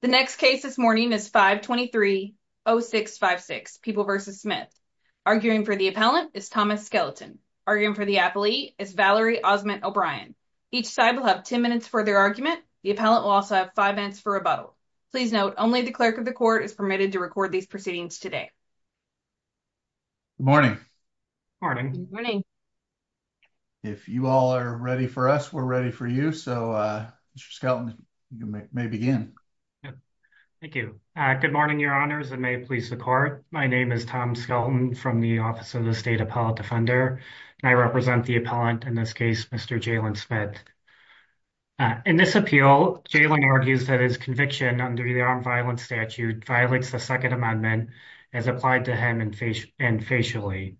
The next case this morning is 523-0656 People v. Smith. Arguing for the appellant is Thomas Skelton. Arguing for the appellee is Valerie Osment O'Brien. Each side will have 10 minutes for their argument. The appellant will also have 5 minutes for rebuttal. Please note, only the clerk of the court is permitted to record these proceedings today. Good morning. If you all are ready for us, we're ready for you. So Mr. Skelton, you may begin. Thank you. Good morning, Your Honors, and may it please the court. My name is Tom Skelton from the Office of the State Appellate Defender, and I represent the appellant, in this case, Mr. Jalen Smith. In this appeal, Jalen argues that his conviction under the armed violence statute violates the Second Amendment as applied to him and facially.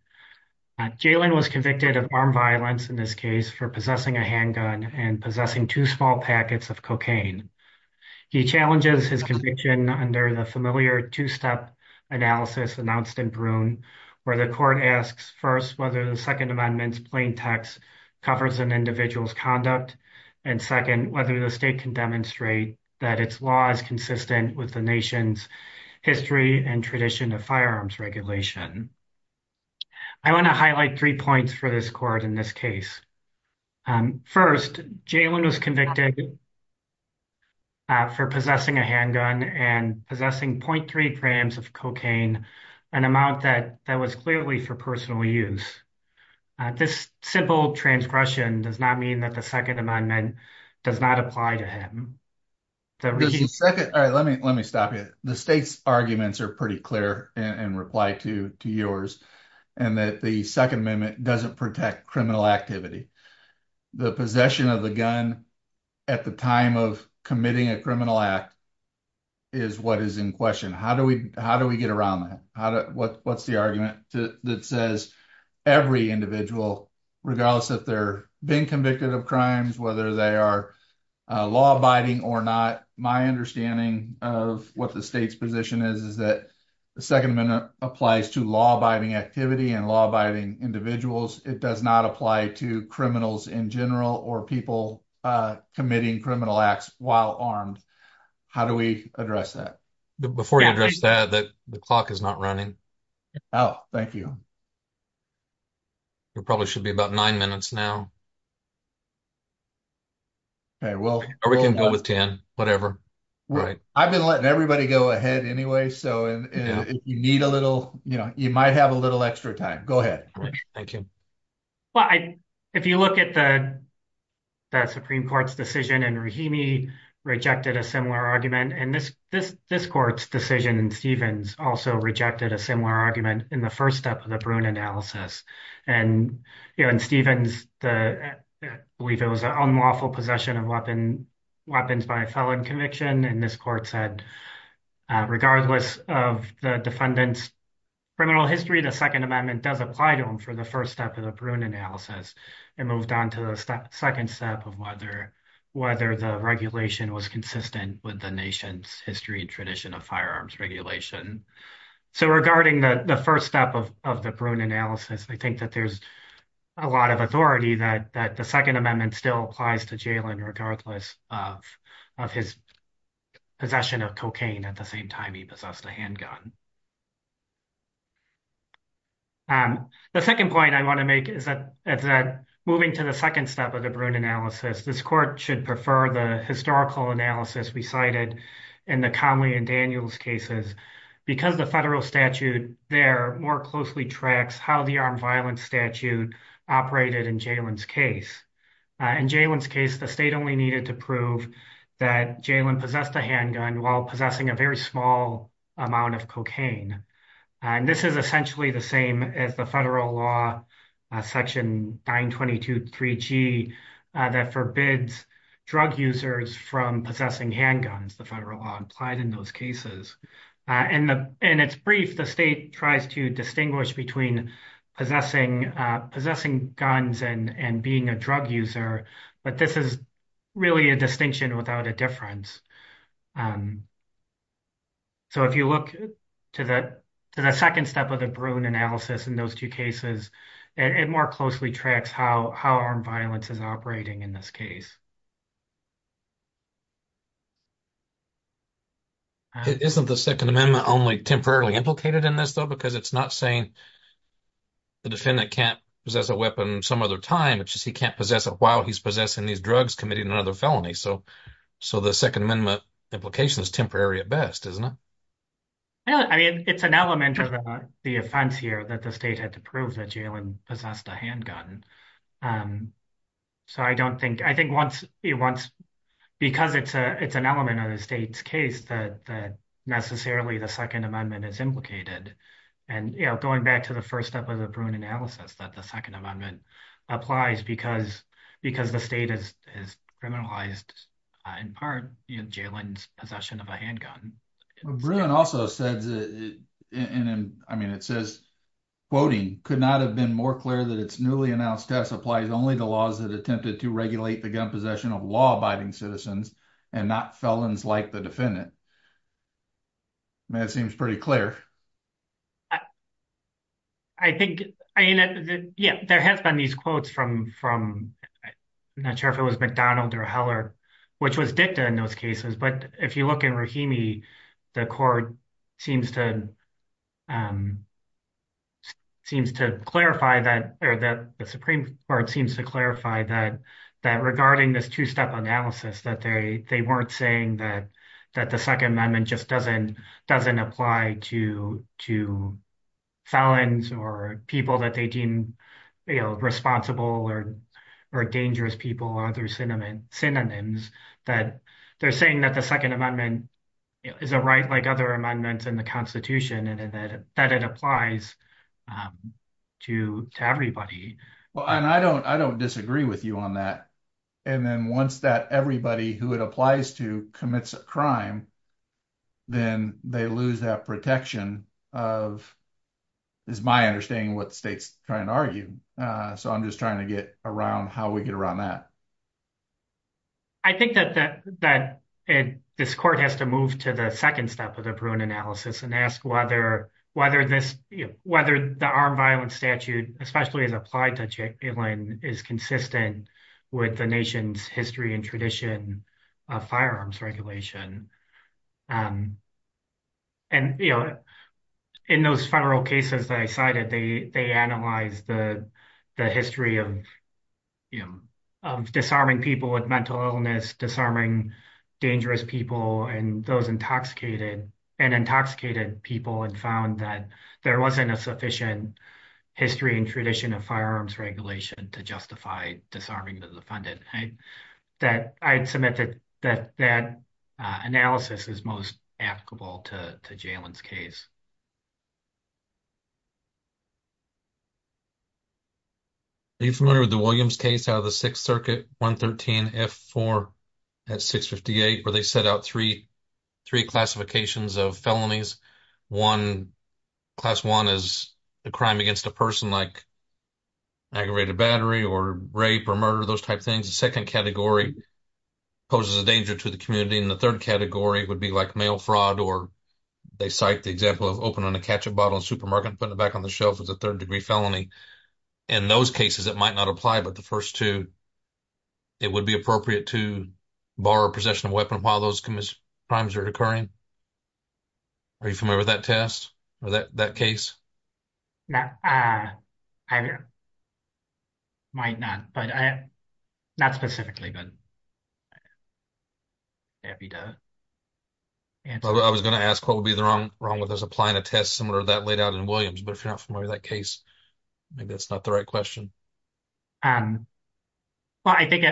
Jalen was convicted of armed violence, in this case, for possessing a handgun and possessing two small packets of cocaine. He challenges his conviction under the familiar two-step analysis announced in Broome, where the court asks, first, whether the Second Amendment's plain text covers an individual's conduct, and second, whether the state can demonstrate that its law is consistent with the nation's history and tradition of firearms regulation. I want to highlight three points for this case. First, Jalen was convicted for possessing a handgun and possessing 0.3 grams of cocaine, an amount that was clearly for personal use. This simple transgression does not mean that the Second Amendment does not apply to him. Let me stop you. The state's arguments are pretty clear in reply to yours. The Second Amendment does not protect criminal activity. The possession of the gun at the time of committing a criminal act is what is in question. How do we get around that? What is the argument that says every individual, regardless if they are being convicted of crimes, whether they are law-abiding or not, my understanding of what the state's position is, is that the Second Amendment applies to law-abiding activity and law-abiding individuals. It does not apply to criminals in general or people committing criminal acts while armed. How do we address that? Before you address that, the clock is not running. Oh, thank you. It probably should be about nine minutes now. Okay, well. Or we can go with 10, whatever. I've been letting everybody go ahead anyway, so if you need a little, you might have a little extra time. Go ahead. Thank you. Well, if you look at the Supreme Court's decision, and Rahimi rejected a similar argument, and this court's decision in Stevens also rejected a similar argument in the first step of the Bruin analysis. In Stevens, I believe it was an unlawful possession of weapons by felon conviction, and this court said, regardless of the defendant's criminal history, the Second Amendment does apply to them for the first step of the Bruin analysis, and moved on to the second step of whether the regulation was consistent with the nation's history and tradition of firearms regulation. So regarding the first step of the Bruin analysis, I think that there's a lot of authority that the Second Amendment still applies to Jalen regardless of his possession of cocaine at the same time he possessed a handgun. The second point I want to make is that moving to the second step of the Bruin analysis, this court should prefer the historical analysis we cited in the Conley and Daniels cases because the federal statute there more closely tracks how the armed violence statute operated in Jalen's case. In Jalen's case, the state only needed to prove that Jalen possessed a handgun while And this is essentially the same as the federal law section 922.3g that forbids drug users from possessing handguns, the federal law applied in those cases. In its brief, the state tries to distinguish between possessing guns and being a drug user, but this is really a distinction without a difference. So if you look to the second step of the Bruin analysis in those two cases, it more closely tracks how armed violence is operating in this case. It isn't the Second Amendment only temporarily implicated in this though because it's not saying the defendant can't possess a weapon some other time, it's just he can't possess it while he's drugs committed another felony. So the Second Amendment implication is temporary at best, isn't it? I mean, it's an element of the offense here that the state had to prove that Jalen possessed a handgun. Because it's an element of the state's case that necessarily the Second Amendment is implicated and going back to the first step of the Bruin analysis that the Second Amendment, the state has criminalized in part Jalen's possession of a handgun. Bruin also says, I mean, it says, quoting, could not have been more clear that its newly announced test applies only to laws that attempted to regulate the gun possession of law-abiding citizens and not felons like the defendant. I mean, that seems pretty clear. I think, I mean, yeah, there has been these quotes from, I'm not sure if it was McDonald or Heller, which was dicta in those cases. But if you look in Rahimi, the Supreme Court seems to clarify that regarding this two-step analysis, that they weren't saying that the Second Amendment just doesn't apply to felons or people that they deem responsible or dangerous people or other synonyms, that they're saying that the Second Amendment is a right like other amendments in the Constitution and that it applies to everybody. Well, and I don't disagree with you on that. And then once that everybody who it applies to commits a crime, then they lose that protection of, is my understanding what the state's trying to argue. So I'm just trying to get around how we get around that. I think that this court has to move to the second step of the Bruin analysis and ask whether the armed violence statute, especially as applied to Jalen, is consistent with the nation's history and tradition of firearms regulation. And in those federal cases that I cited, they analyzed the history of disarming people with mental illness, disarming dangerous people and intoxicated people and found that there wasn't a sufficient history and firearms regulation to justify disarming the defendant. I'd submit that that analysis is most applicable to Jalen's case. Are you familiar with the Williams case out of the Sixth Circuit, 113 F4 at 658, where they set out three classifications of felonies? One, class one is a crime against a person like aggravated battery or rape or murder, those types of things. The second category poses a danger to the community. And the third category would be like mail fraud, or they cite the example of opening a ketchup bottle in a supermarket and putting it back on the shelf as a third degree felony. In those cases, it might not apply, but the first two, it would be appropriate to borrow possession of a weapon while those crimes are occurring. Are you familiar with that test or that case? I might not, but not specifically. I was going to ask what would be the wrong with us applying a test similar to that laid out in Williams, but if you're not familiar with that case, maybe that's not the right question. Well, I think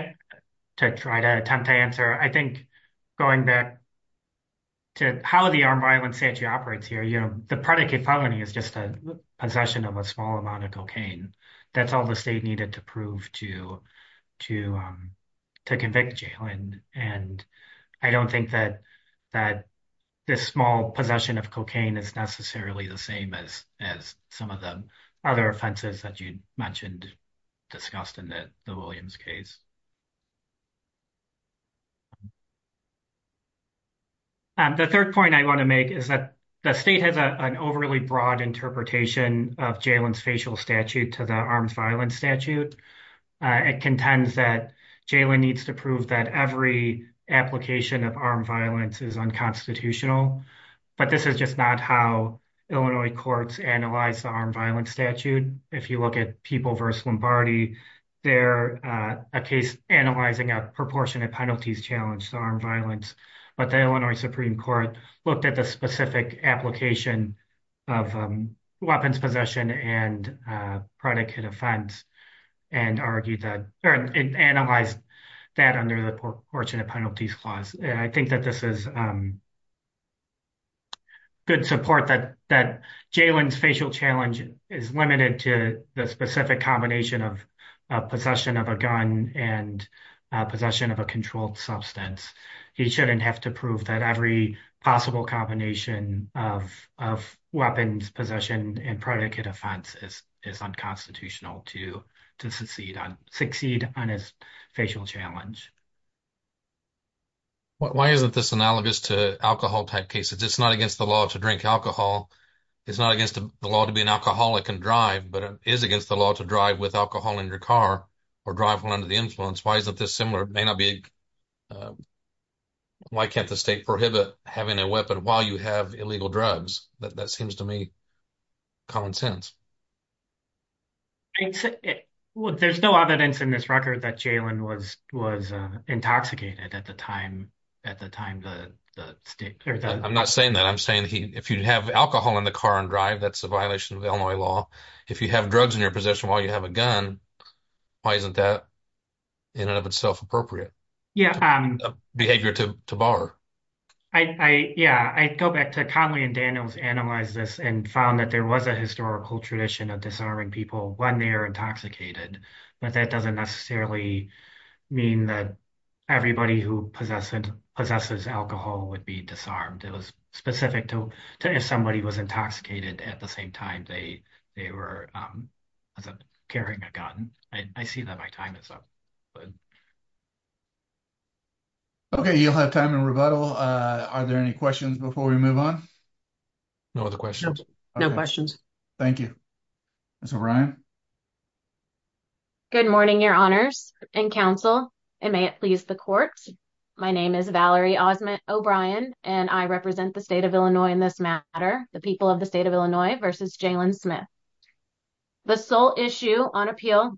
to try to attempt to answer, I think going back to how the armed violence statute operates here, the predicate felony is just a possession of a small amount of cocaine. That's all the state needed to prove to convict Jalen. And I don't think that this small possession of cocaine is necessarily the same as some of the other offenses that you mentioned discussed in the Williams case. The third point I want to make is that the state has an overly broad interpretation of Jalen's facial statute to the armed violence statute. It contends that Jalen needs to prove that every application of armed violence is unconstitutional, but this is just not how Illinois courts analyze the armed violence statute. If you look at People v. Lombardi, they're a case analyzing a proportionate penalties challenge to armed violence, but the Illinois Supreme Court looked at the specific application of weapons possession and predicate offense and analyzed that under the proportionate penalties clause. I think that this is good support that Jalen's facial challenge is limited to the specific combination of possession of a gun and possession of a controlled substance. He shouldn't have to prove that every possible combination of weapons possession and predicate offense is unconstitutional to succeed on his facial challenge. Why isn't this analogous to alcohol type cases? It's not against the law to drink alcohol. It's not against the law to be an alcoholic and drive, but it is against the law to drive with alcohol in your car or drive one under the influence. Why is it this similar? It may not be why can't the state prohibit having a weapon while you have illegal drugs? That seems to me common sense. I'd say there's no evidence in this record that Jalen was intoxicated at the time the state... I'm not saying that. I'm saying if you have alcohol in the car and drive, that's a violation of Illinois law. If you have drugs in your possession while you have a gun, why isn't that in and of itself appropriate behavior to bar? Yeah, I go back to Conley and Daniels analyzed this and found that there was a historical tradition of disarming people when they are intoxicated, but that doesn't necessarily mean that everybody who possesses alcohol would be disarmed. It was specific to if somebody was intoxicated at the same time they were carrying a gun. I see that my time is up. Okay, you'll have time in rebuttal. Are there any questions before we move on? No other questions. No questions. Thank you. Ms. O'Brien. Good morning, your honors and counsel and may it please the court. My name is Valerie Osment O'Brien and I represent the state of Illinois in this matter, the people of the state of Illinois versus Jalen Smith. The sole issue on appeal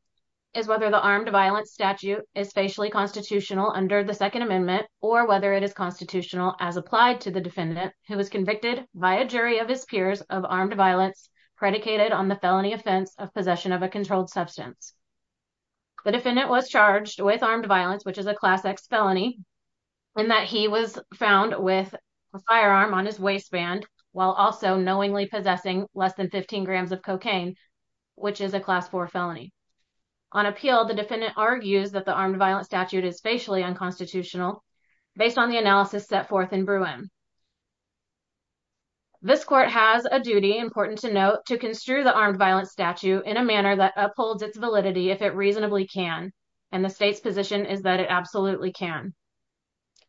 is whether the armed violence statute is facially constitutional under the second amendment or whether it is constitutional as applied to the peers of armed violence predicated on the felony offense of possession of a controlled substance. The defendant was charged with armed violence, which is a class X felony, and that he was found with a firearm on his waistband while also knowingly possessing less than 15 grams of cocaine, which is a class four felony. On appeal, the defendant argues that the armed violence statute is facially unconstitutional based on the analysis set forth in Bruin. This court has a duty, important to note, to construe the armed violence statute in a manner that upholds its validity if it reasonably can, and the state's position is that it absolutely can.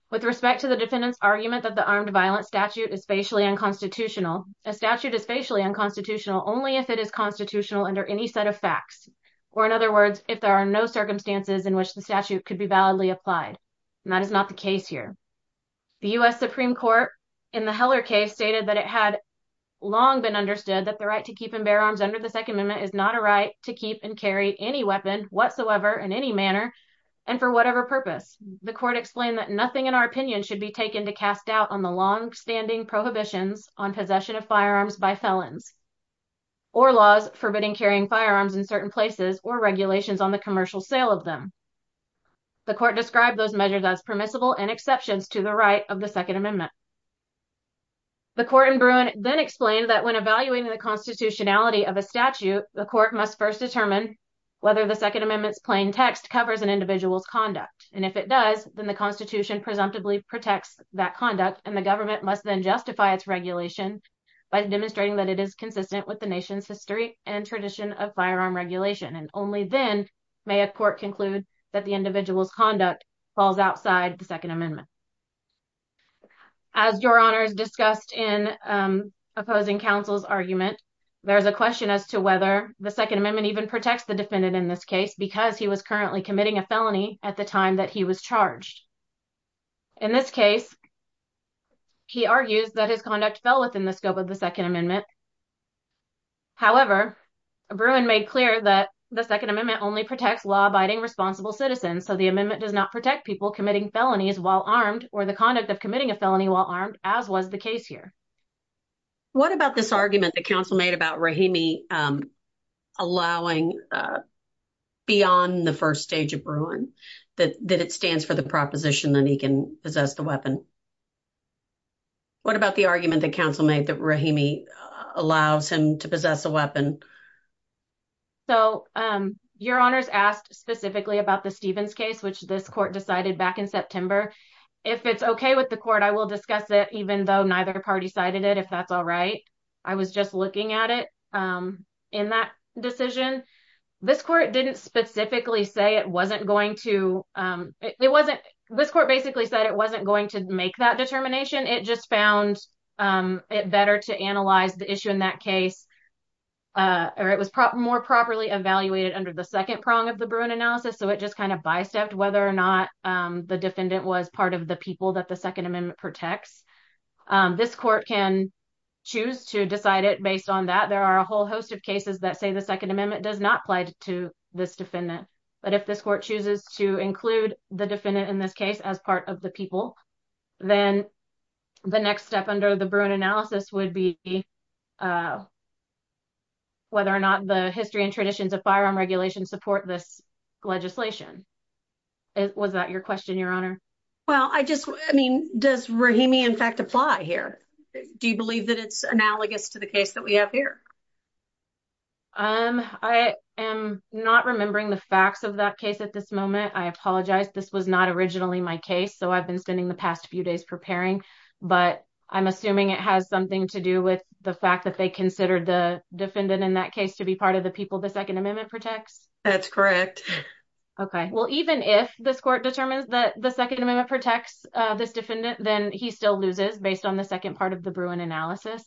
With respect to the defendant's argument that the armed violence statute is facially unconstitutional, a statute is facially unconstitutional only if it is constitutional under any set of facts, or in other words, if there are no circumstances in which the statute could be validly applied, and that is not the case here. The U.S. Supreme Court in the Heller case stated that it had long been understood that the right to keep and bear arms under the second amendment is not a right to keep and carry any weapon whatsoever in any manner and for whatever purpose. The court explained that nothing in our opinion should be taken to cast doubt on the long-standing prohibitions on possession of firearms by felons or laws forbidding carrying firearms in certain places or regulations on the commercial sale of them. The court described those measures as permissible and exceptions to the right of the second amendment. The court in Bruin then explained that when evaluating the constitutionality of a statute, the court must first determine whether the second amendment's plain text covers an individual's conduct, and if it does, then the constitution presumptively protects that conduct, and the government must then justify its regulation by demonstrating that it is consistent with the nation's history and tradition of firearm regulation, and only then may a court conclude that the individual's conduct falls outside the second amendment. As your honors discussed in opposing counsel's argument, there's a question as to whether the second amendment even protects the defendant in this case because he was currently committing a felony at the time that he was charged. In this case, he argues that his conduct fell within the scope of the second amendment. However, Bruin made clear that the second amendment only protects law-abiding responsible citizens, so the amendment does not protect people committing felonies while armed or the conduct of committing a felony while armed, as was the case here. What about this argument that counsel made about Rahimi allowing beyond the first stage of Bruin that it stands for the proposition that he can possess the weapon? What about the argument that counsel made that Rahimi allows him to possess a weapon? So your honors asked specifically about the Stevens case, which this court decided back in September. If it's okay with the court, I will discuss it, even though neither party cited it, if that's all right. I was just looking at it in that decision. This court didn't specifically say it wasn't going to, it wasn't, this court basically said it wasn't going to make that determination. It just found it better to analyze the issue in that case, or it was more properly evaluated under the second prong of the Bruin analysis, so it just kind of bicep whether or not the defendant was part of the people that the second amendment protects. This court can choose to decide it based on that. There are a whole host of cases that say the second amendment does not apply to this defendant, but if this court chooses to include the defendant in this case as part of the people, then the next step under the Bruin analysis would be whether or not the history and traditions of firearm regulation support this legislation. Was that your question, your honor? Well, I just, I mean, does Rahimi in fact apply here? Do you believe that it's analogous to the case that we have here? I am not remembering the facts of that case at this moment. I apologize. This was not originally my case, so I've been spending the past few days preparing, but I'm assuming it has something to do with the fact that they considered the defendant in that case to be part of the people the second amendment protects? That's correct. Okay, well, even if this court determines that the second amendment protects this defendant, then he still loses based on the second part of the Bruin analysis.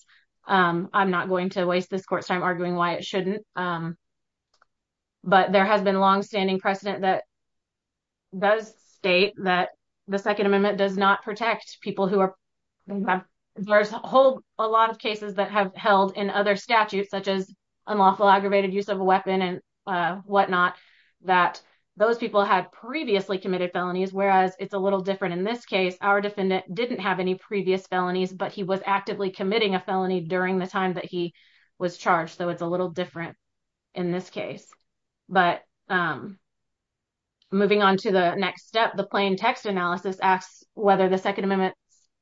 I'm not going to waste this court's time arguing why it shouldn't, but there has been long-standing precedent that does state that the second amendment does not protect people who are, there's a whole lot of cases that have held in other statutes such as unlawful aggravated use of a weapon and whatnot that those people had previously committed felonies, whereas it's a little different in this case. Our defendant didn't have any previous felonies, but he was actively committing a felony during the time that he was charged, so it's a little different in this case. But moving on to the next step, the plain text analysis asks whether the second amendment's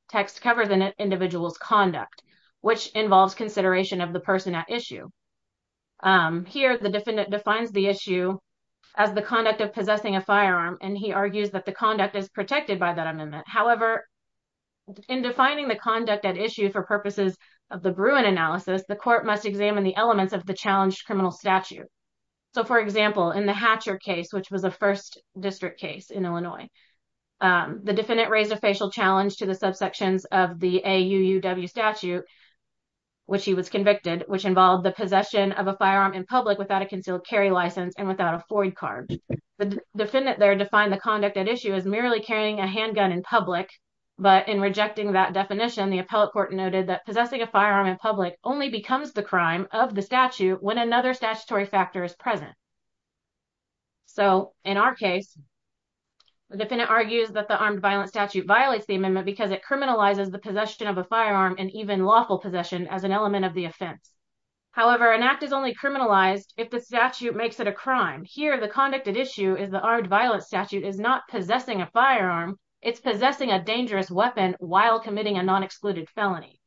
text covers an individual's conduct, which involves consideration of the person at issue. Here, the defendant defines the issue as the conduct of possessing a firearm, and he argues that the conduct is protected by that amendment. However, in defining the conduct at issue for purposes of the Bruin analysis, the court must examine the elements of the challenged criminal statute. So, for example, in the Hatcher case, which was the first district case in Illinois, the defendant raised a facial challenge to the subsections of the AUUW statute, which he was convicted, which involved the possession of a firearm in public without a concealed carry license and without a Ford card. The defendant there defined the conduct at issue as merely carrying a handgun in public, but in rejecting that definition, the appellate court noted that possessing a firearm in public only becomes the crime of the statute when another statutory factor is present. So, in our case, the defendant argues that the armed violence statute violates the amendment because it criminalizes the possession of a firearm and even lawful possession as an element of the offense. However, an act is only criminalized if the statute makes it a crime. Here, the conduct at issue is the armed violence statute is not possessing a firearm, it's possessing a dangerous weapon while committing a non-excluded felony.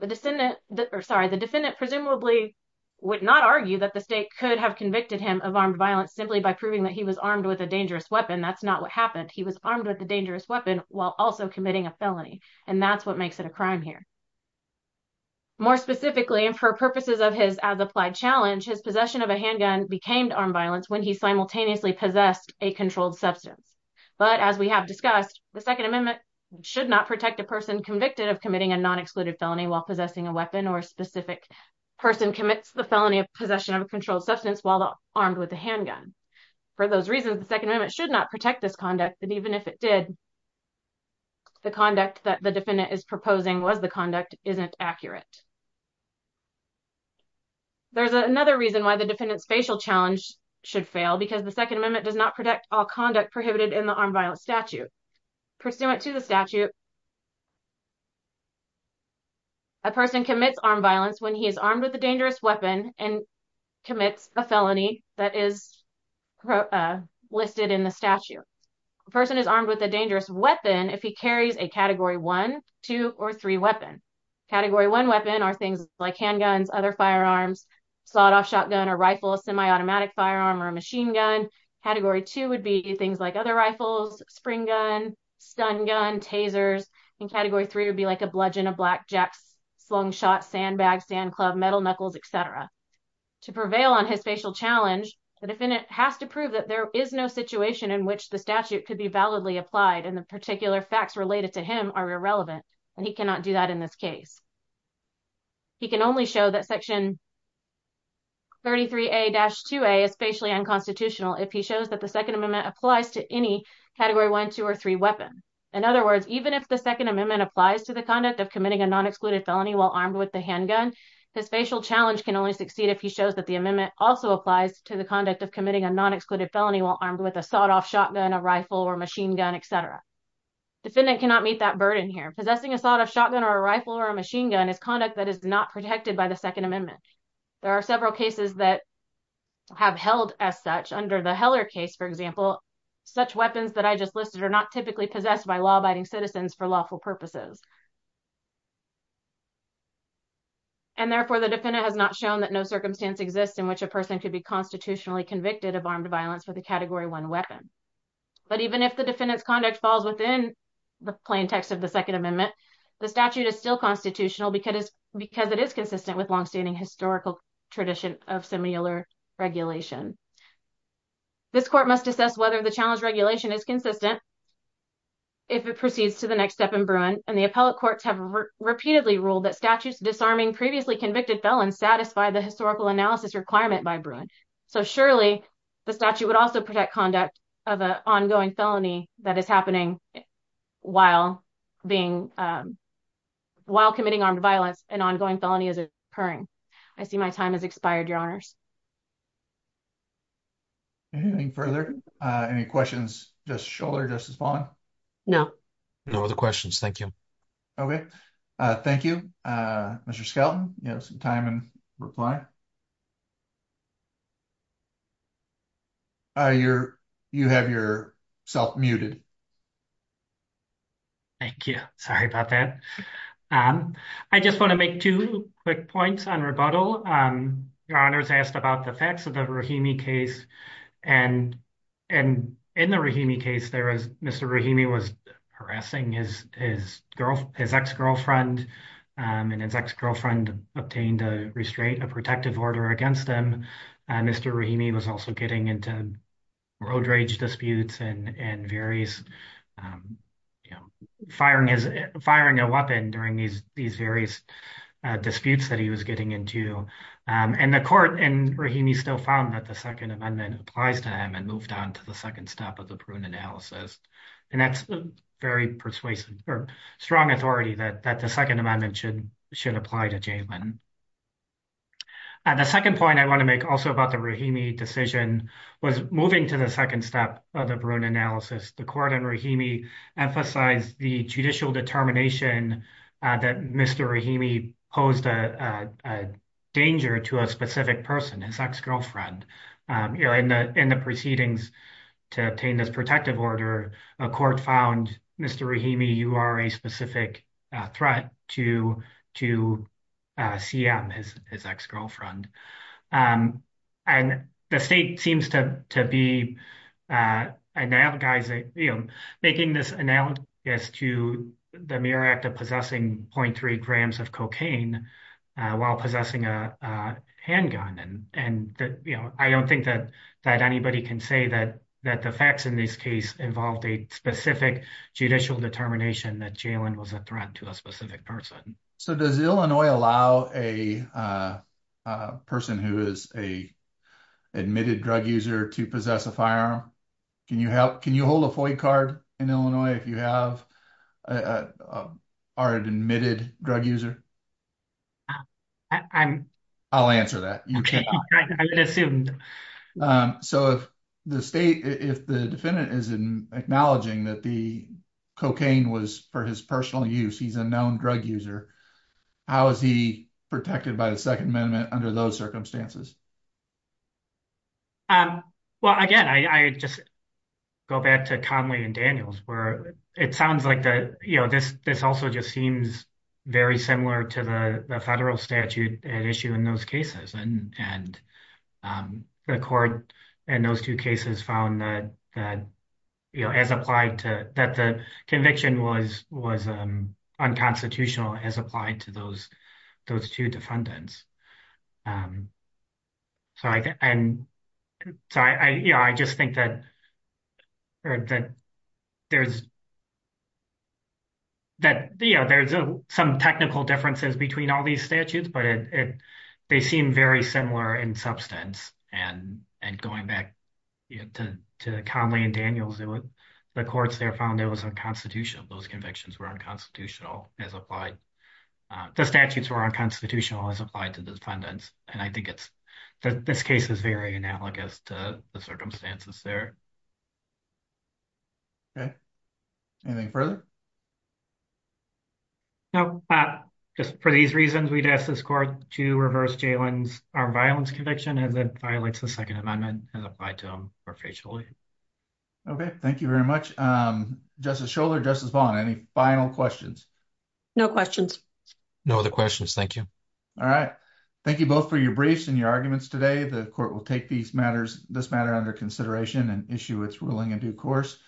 The defendant presumably would not argue that the state could have convicted him of armed violence simply by proving that he was armed with a dangerous weapon. That's not what happened. He was armed with a dangerous weapon while also committing a felony, and that's what makes it a crime here. More specifically, and for purposes of his as-applied challenge, his possession of a handgun became armed violence when he simultaneously possessed a controlled substance. But, as we have discussed, the Second Amendment should not protect a person convicted of committing a non-excluded felony while possessing a weapon or a specific person commits the felony of possession of a controlled substance while armed with a handgun. For those reasons, the Second Amendment should not protect this conduct, and even if it did, the conduct that the defendant is proposing was the conduct isn't accurate. There's another reason why the defendant's facial challenge should fail because the Second Amendment does not protect all conduct prohibited in the armed violence statute. Pursuant to the statute, a person commits armed violence when he is armed with a dangerous weapon and commits a felony that is listed in the statute. A person is armed with a dangerous weapon if he carries a category one, two, or three weapon. Category one weapon are things like handguns, other firearms, sawed-off shotgun, a rifle, a semi-automatic firearm, or a machine gun. Category two would be things like other rifles, spring gun, stun gun, tasers, and category three would be like a bludgeon, a black jack, slung shot, sandbag, sand club, metal knuckles, etc. To prevail on his facial challenge, the defendant has to prove that there is no situation in which the statute could be validly applied and the particular facts related to him are irrelevant and he cannot do that in this case. He can only show that section 33A-2A is facially unconstitutional if he shows that the Second Amendment applies to any category one, two, or three weapon. In other words, even if the Second Amendment applies to the conduct of committing a non-excluded felony while armed with the handgun, his facial challenge can only succeed if he shows that the amendment also applies to the conduct of committing a non-excluded felony while armed with a sawed-off shotgun, a rifle, or machine gun, etc. Defendant cannot meet that burden here. Possessing a sawed-off shotgun, or a rifle, or a machine gun is conduct that is not protected by the Second Amendment. There are several cases that have held as such. Under the Heller case, for example, such weapons that I just listed are not typically possessed by law-abiding citizens for lawful purposes. And therefore, the defendant has not shown that no circumstance exists in which a person could be constitutionally convicted of armed violence with a category one weapon. But even if the defendant's conduct falls within the plaintext of the Second Amendment, the statute is still constitutional because it is consistent with long-standing historical tradition of similar regulation. This court must assess whether the challenge regulation is consistent if it proceeds to the next step in Bruin, and the appellate courts have repeatedly ruled that statutes disarming previously convicted felons satisfy the historical analysis requirement by Bruin. So surely, the statute would also protect conduct of an ongoing felony that is happening while committing armed violence, an ongoing felony is occurring. I see my time has expired, Your Honors. Anything further? Any questions? Just a shoulder just as long? No. No other questions. Thank you. Okay. Thank you, Mr. Skelton. You have some time in reply. You have yourself muted. Thank you. Sorry about that. I just want to make two quick points on rebuttal. Your Honors asked about the facts of the Rahimi case. And in the Rahimi case, Mr. Rahimi was harassing his ex-girlfriend, and his ex-girlfriend obtained a restraint, a protective order against him. Mr. Rahimi was also getting into road rage disputes and various, you know, firing a weapon during these various disputes that he was getting into. And the court in Rahimi still found that the Second Amendment applies to him and moved on to the second step of the Bruin analysis. And that's very persuasive or strong authority that the Second Amendment should apply to Jaylen. The second point I want to make also about the Rahimi decision was moving to the second step of the Bruin analysis. The court in Rahimi emphasized the judicial determination that Mr. Rahimi posed a danger to a specific person, his ex-girlfriend. In the proceedings to obtain this protective order, a court found Mr. Rahimi, you are a specific threat to CM, his ex-girlfriend. And the state seems to be analogizing, you know, making this analogous to the mere act of possessing 0.3 grams of cocaine while possessing a handgun. And, you know, I don't think that anybody can say that the facts in this case involved a specific judicial determination that Jaylen was a threat to a specific person. So does Illinois allow a person who is a admitted drug user to possess a firearm? Can you hold a FOIA card in Illinois if you have an admitted drug user? I'll answer that. So if the defendant is acknowledging that the cocaine was for his personal use, he's a known drug user, how is he protected by the Second Amendment under those circumstances? Well, again, I just go back to Conley and Daniels where it sounds like the, you know, this also just seems very similar to the federal statute at issue in those cases. And the court in those two cases found that, you know, as applied to that the conviction was unconstitutional as applied to those two defendants. So, you know, I just think that, you know, there's some technical differences between all these statutes, but they seem very similar in substance. And going back to Conley and Daniels, the courts there found it was unconstitutional. Those convictions were unconstitutional as applied. The statutes were unconstitutional as applied to the defendants. And I think this case is very analogous to the circumstances there. Okay. Anything further? No. Just for these reasons, we'd ask this court to reverse Jaylen's armed violence conviction as it violates the Second Amendment as applied to him perpetually. Okay. Thank you very much. Justice Schoeller, Justice Vaughn, any final questions? No questions. No other questions. Thank you. All right. Thank you both for your briefs and your arguments today. The court will take this matter under consideration and issue its ruling in due course.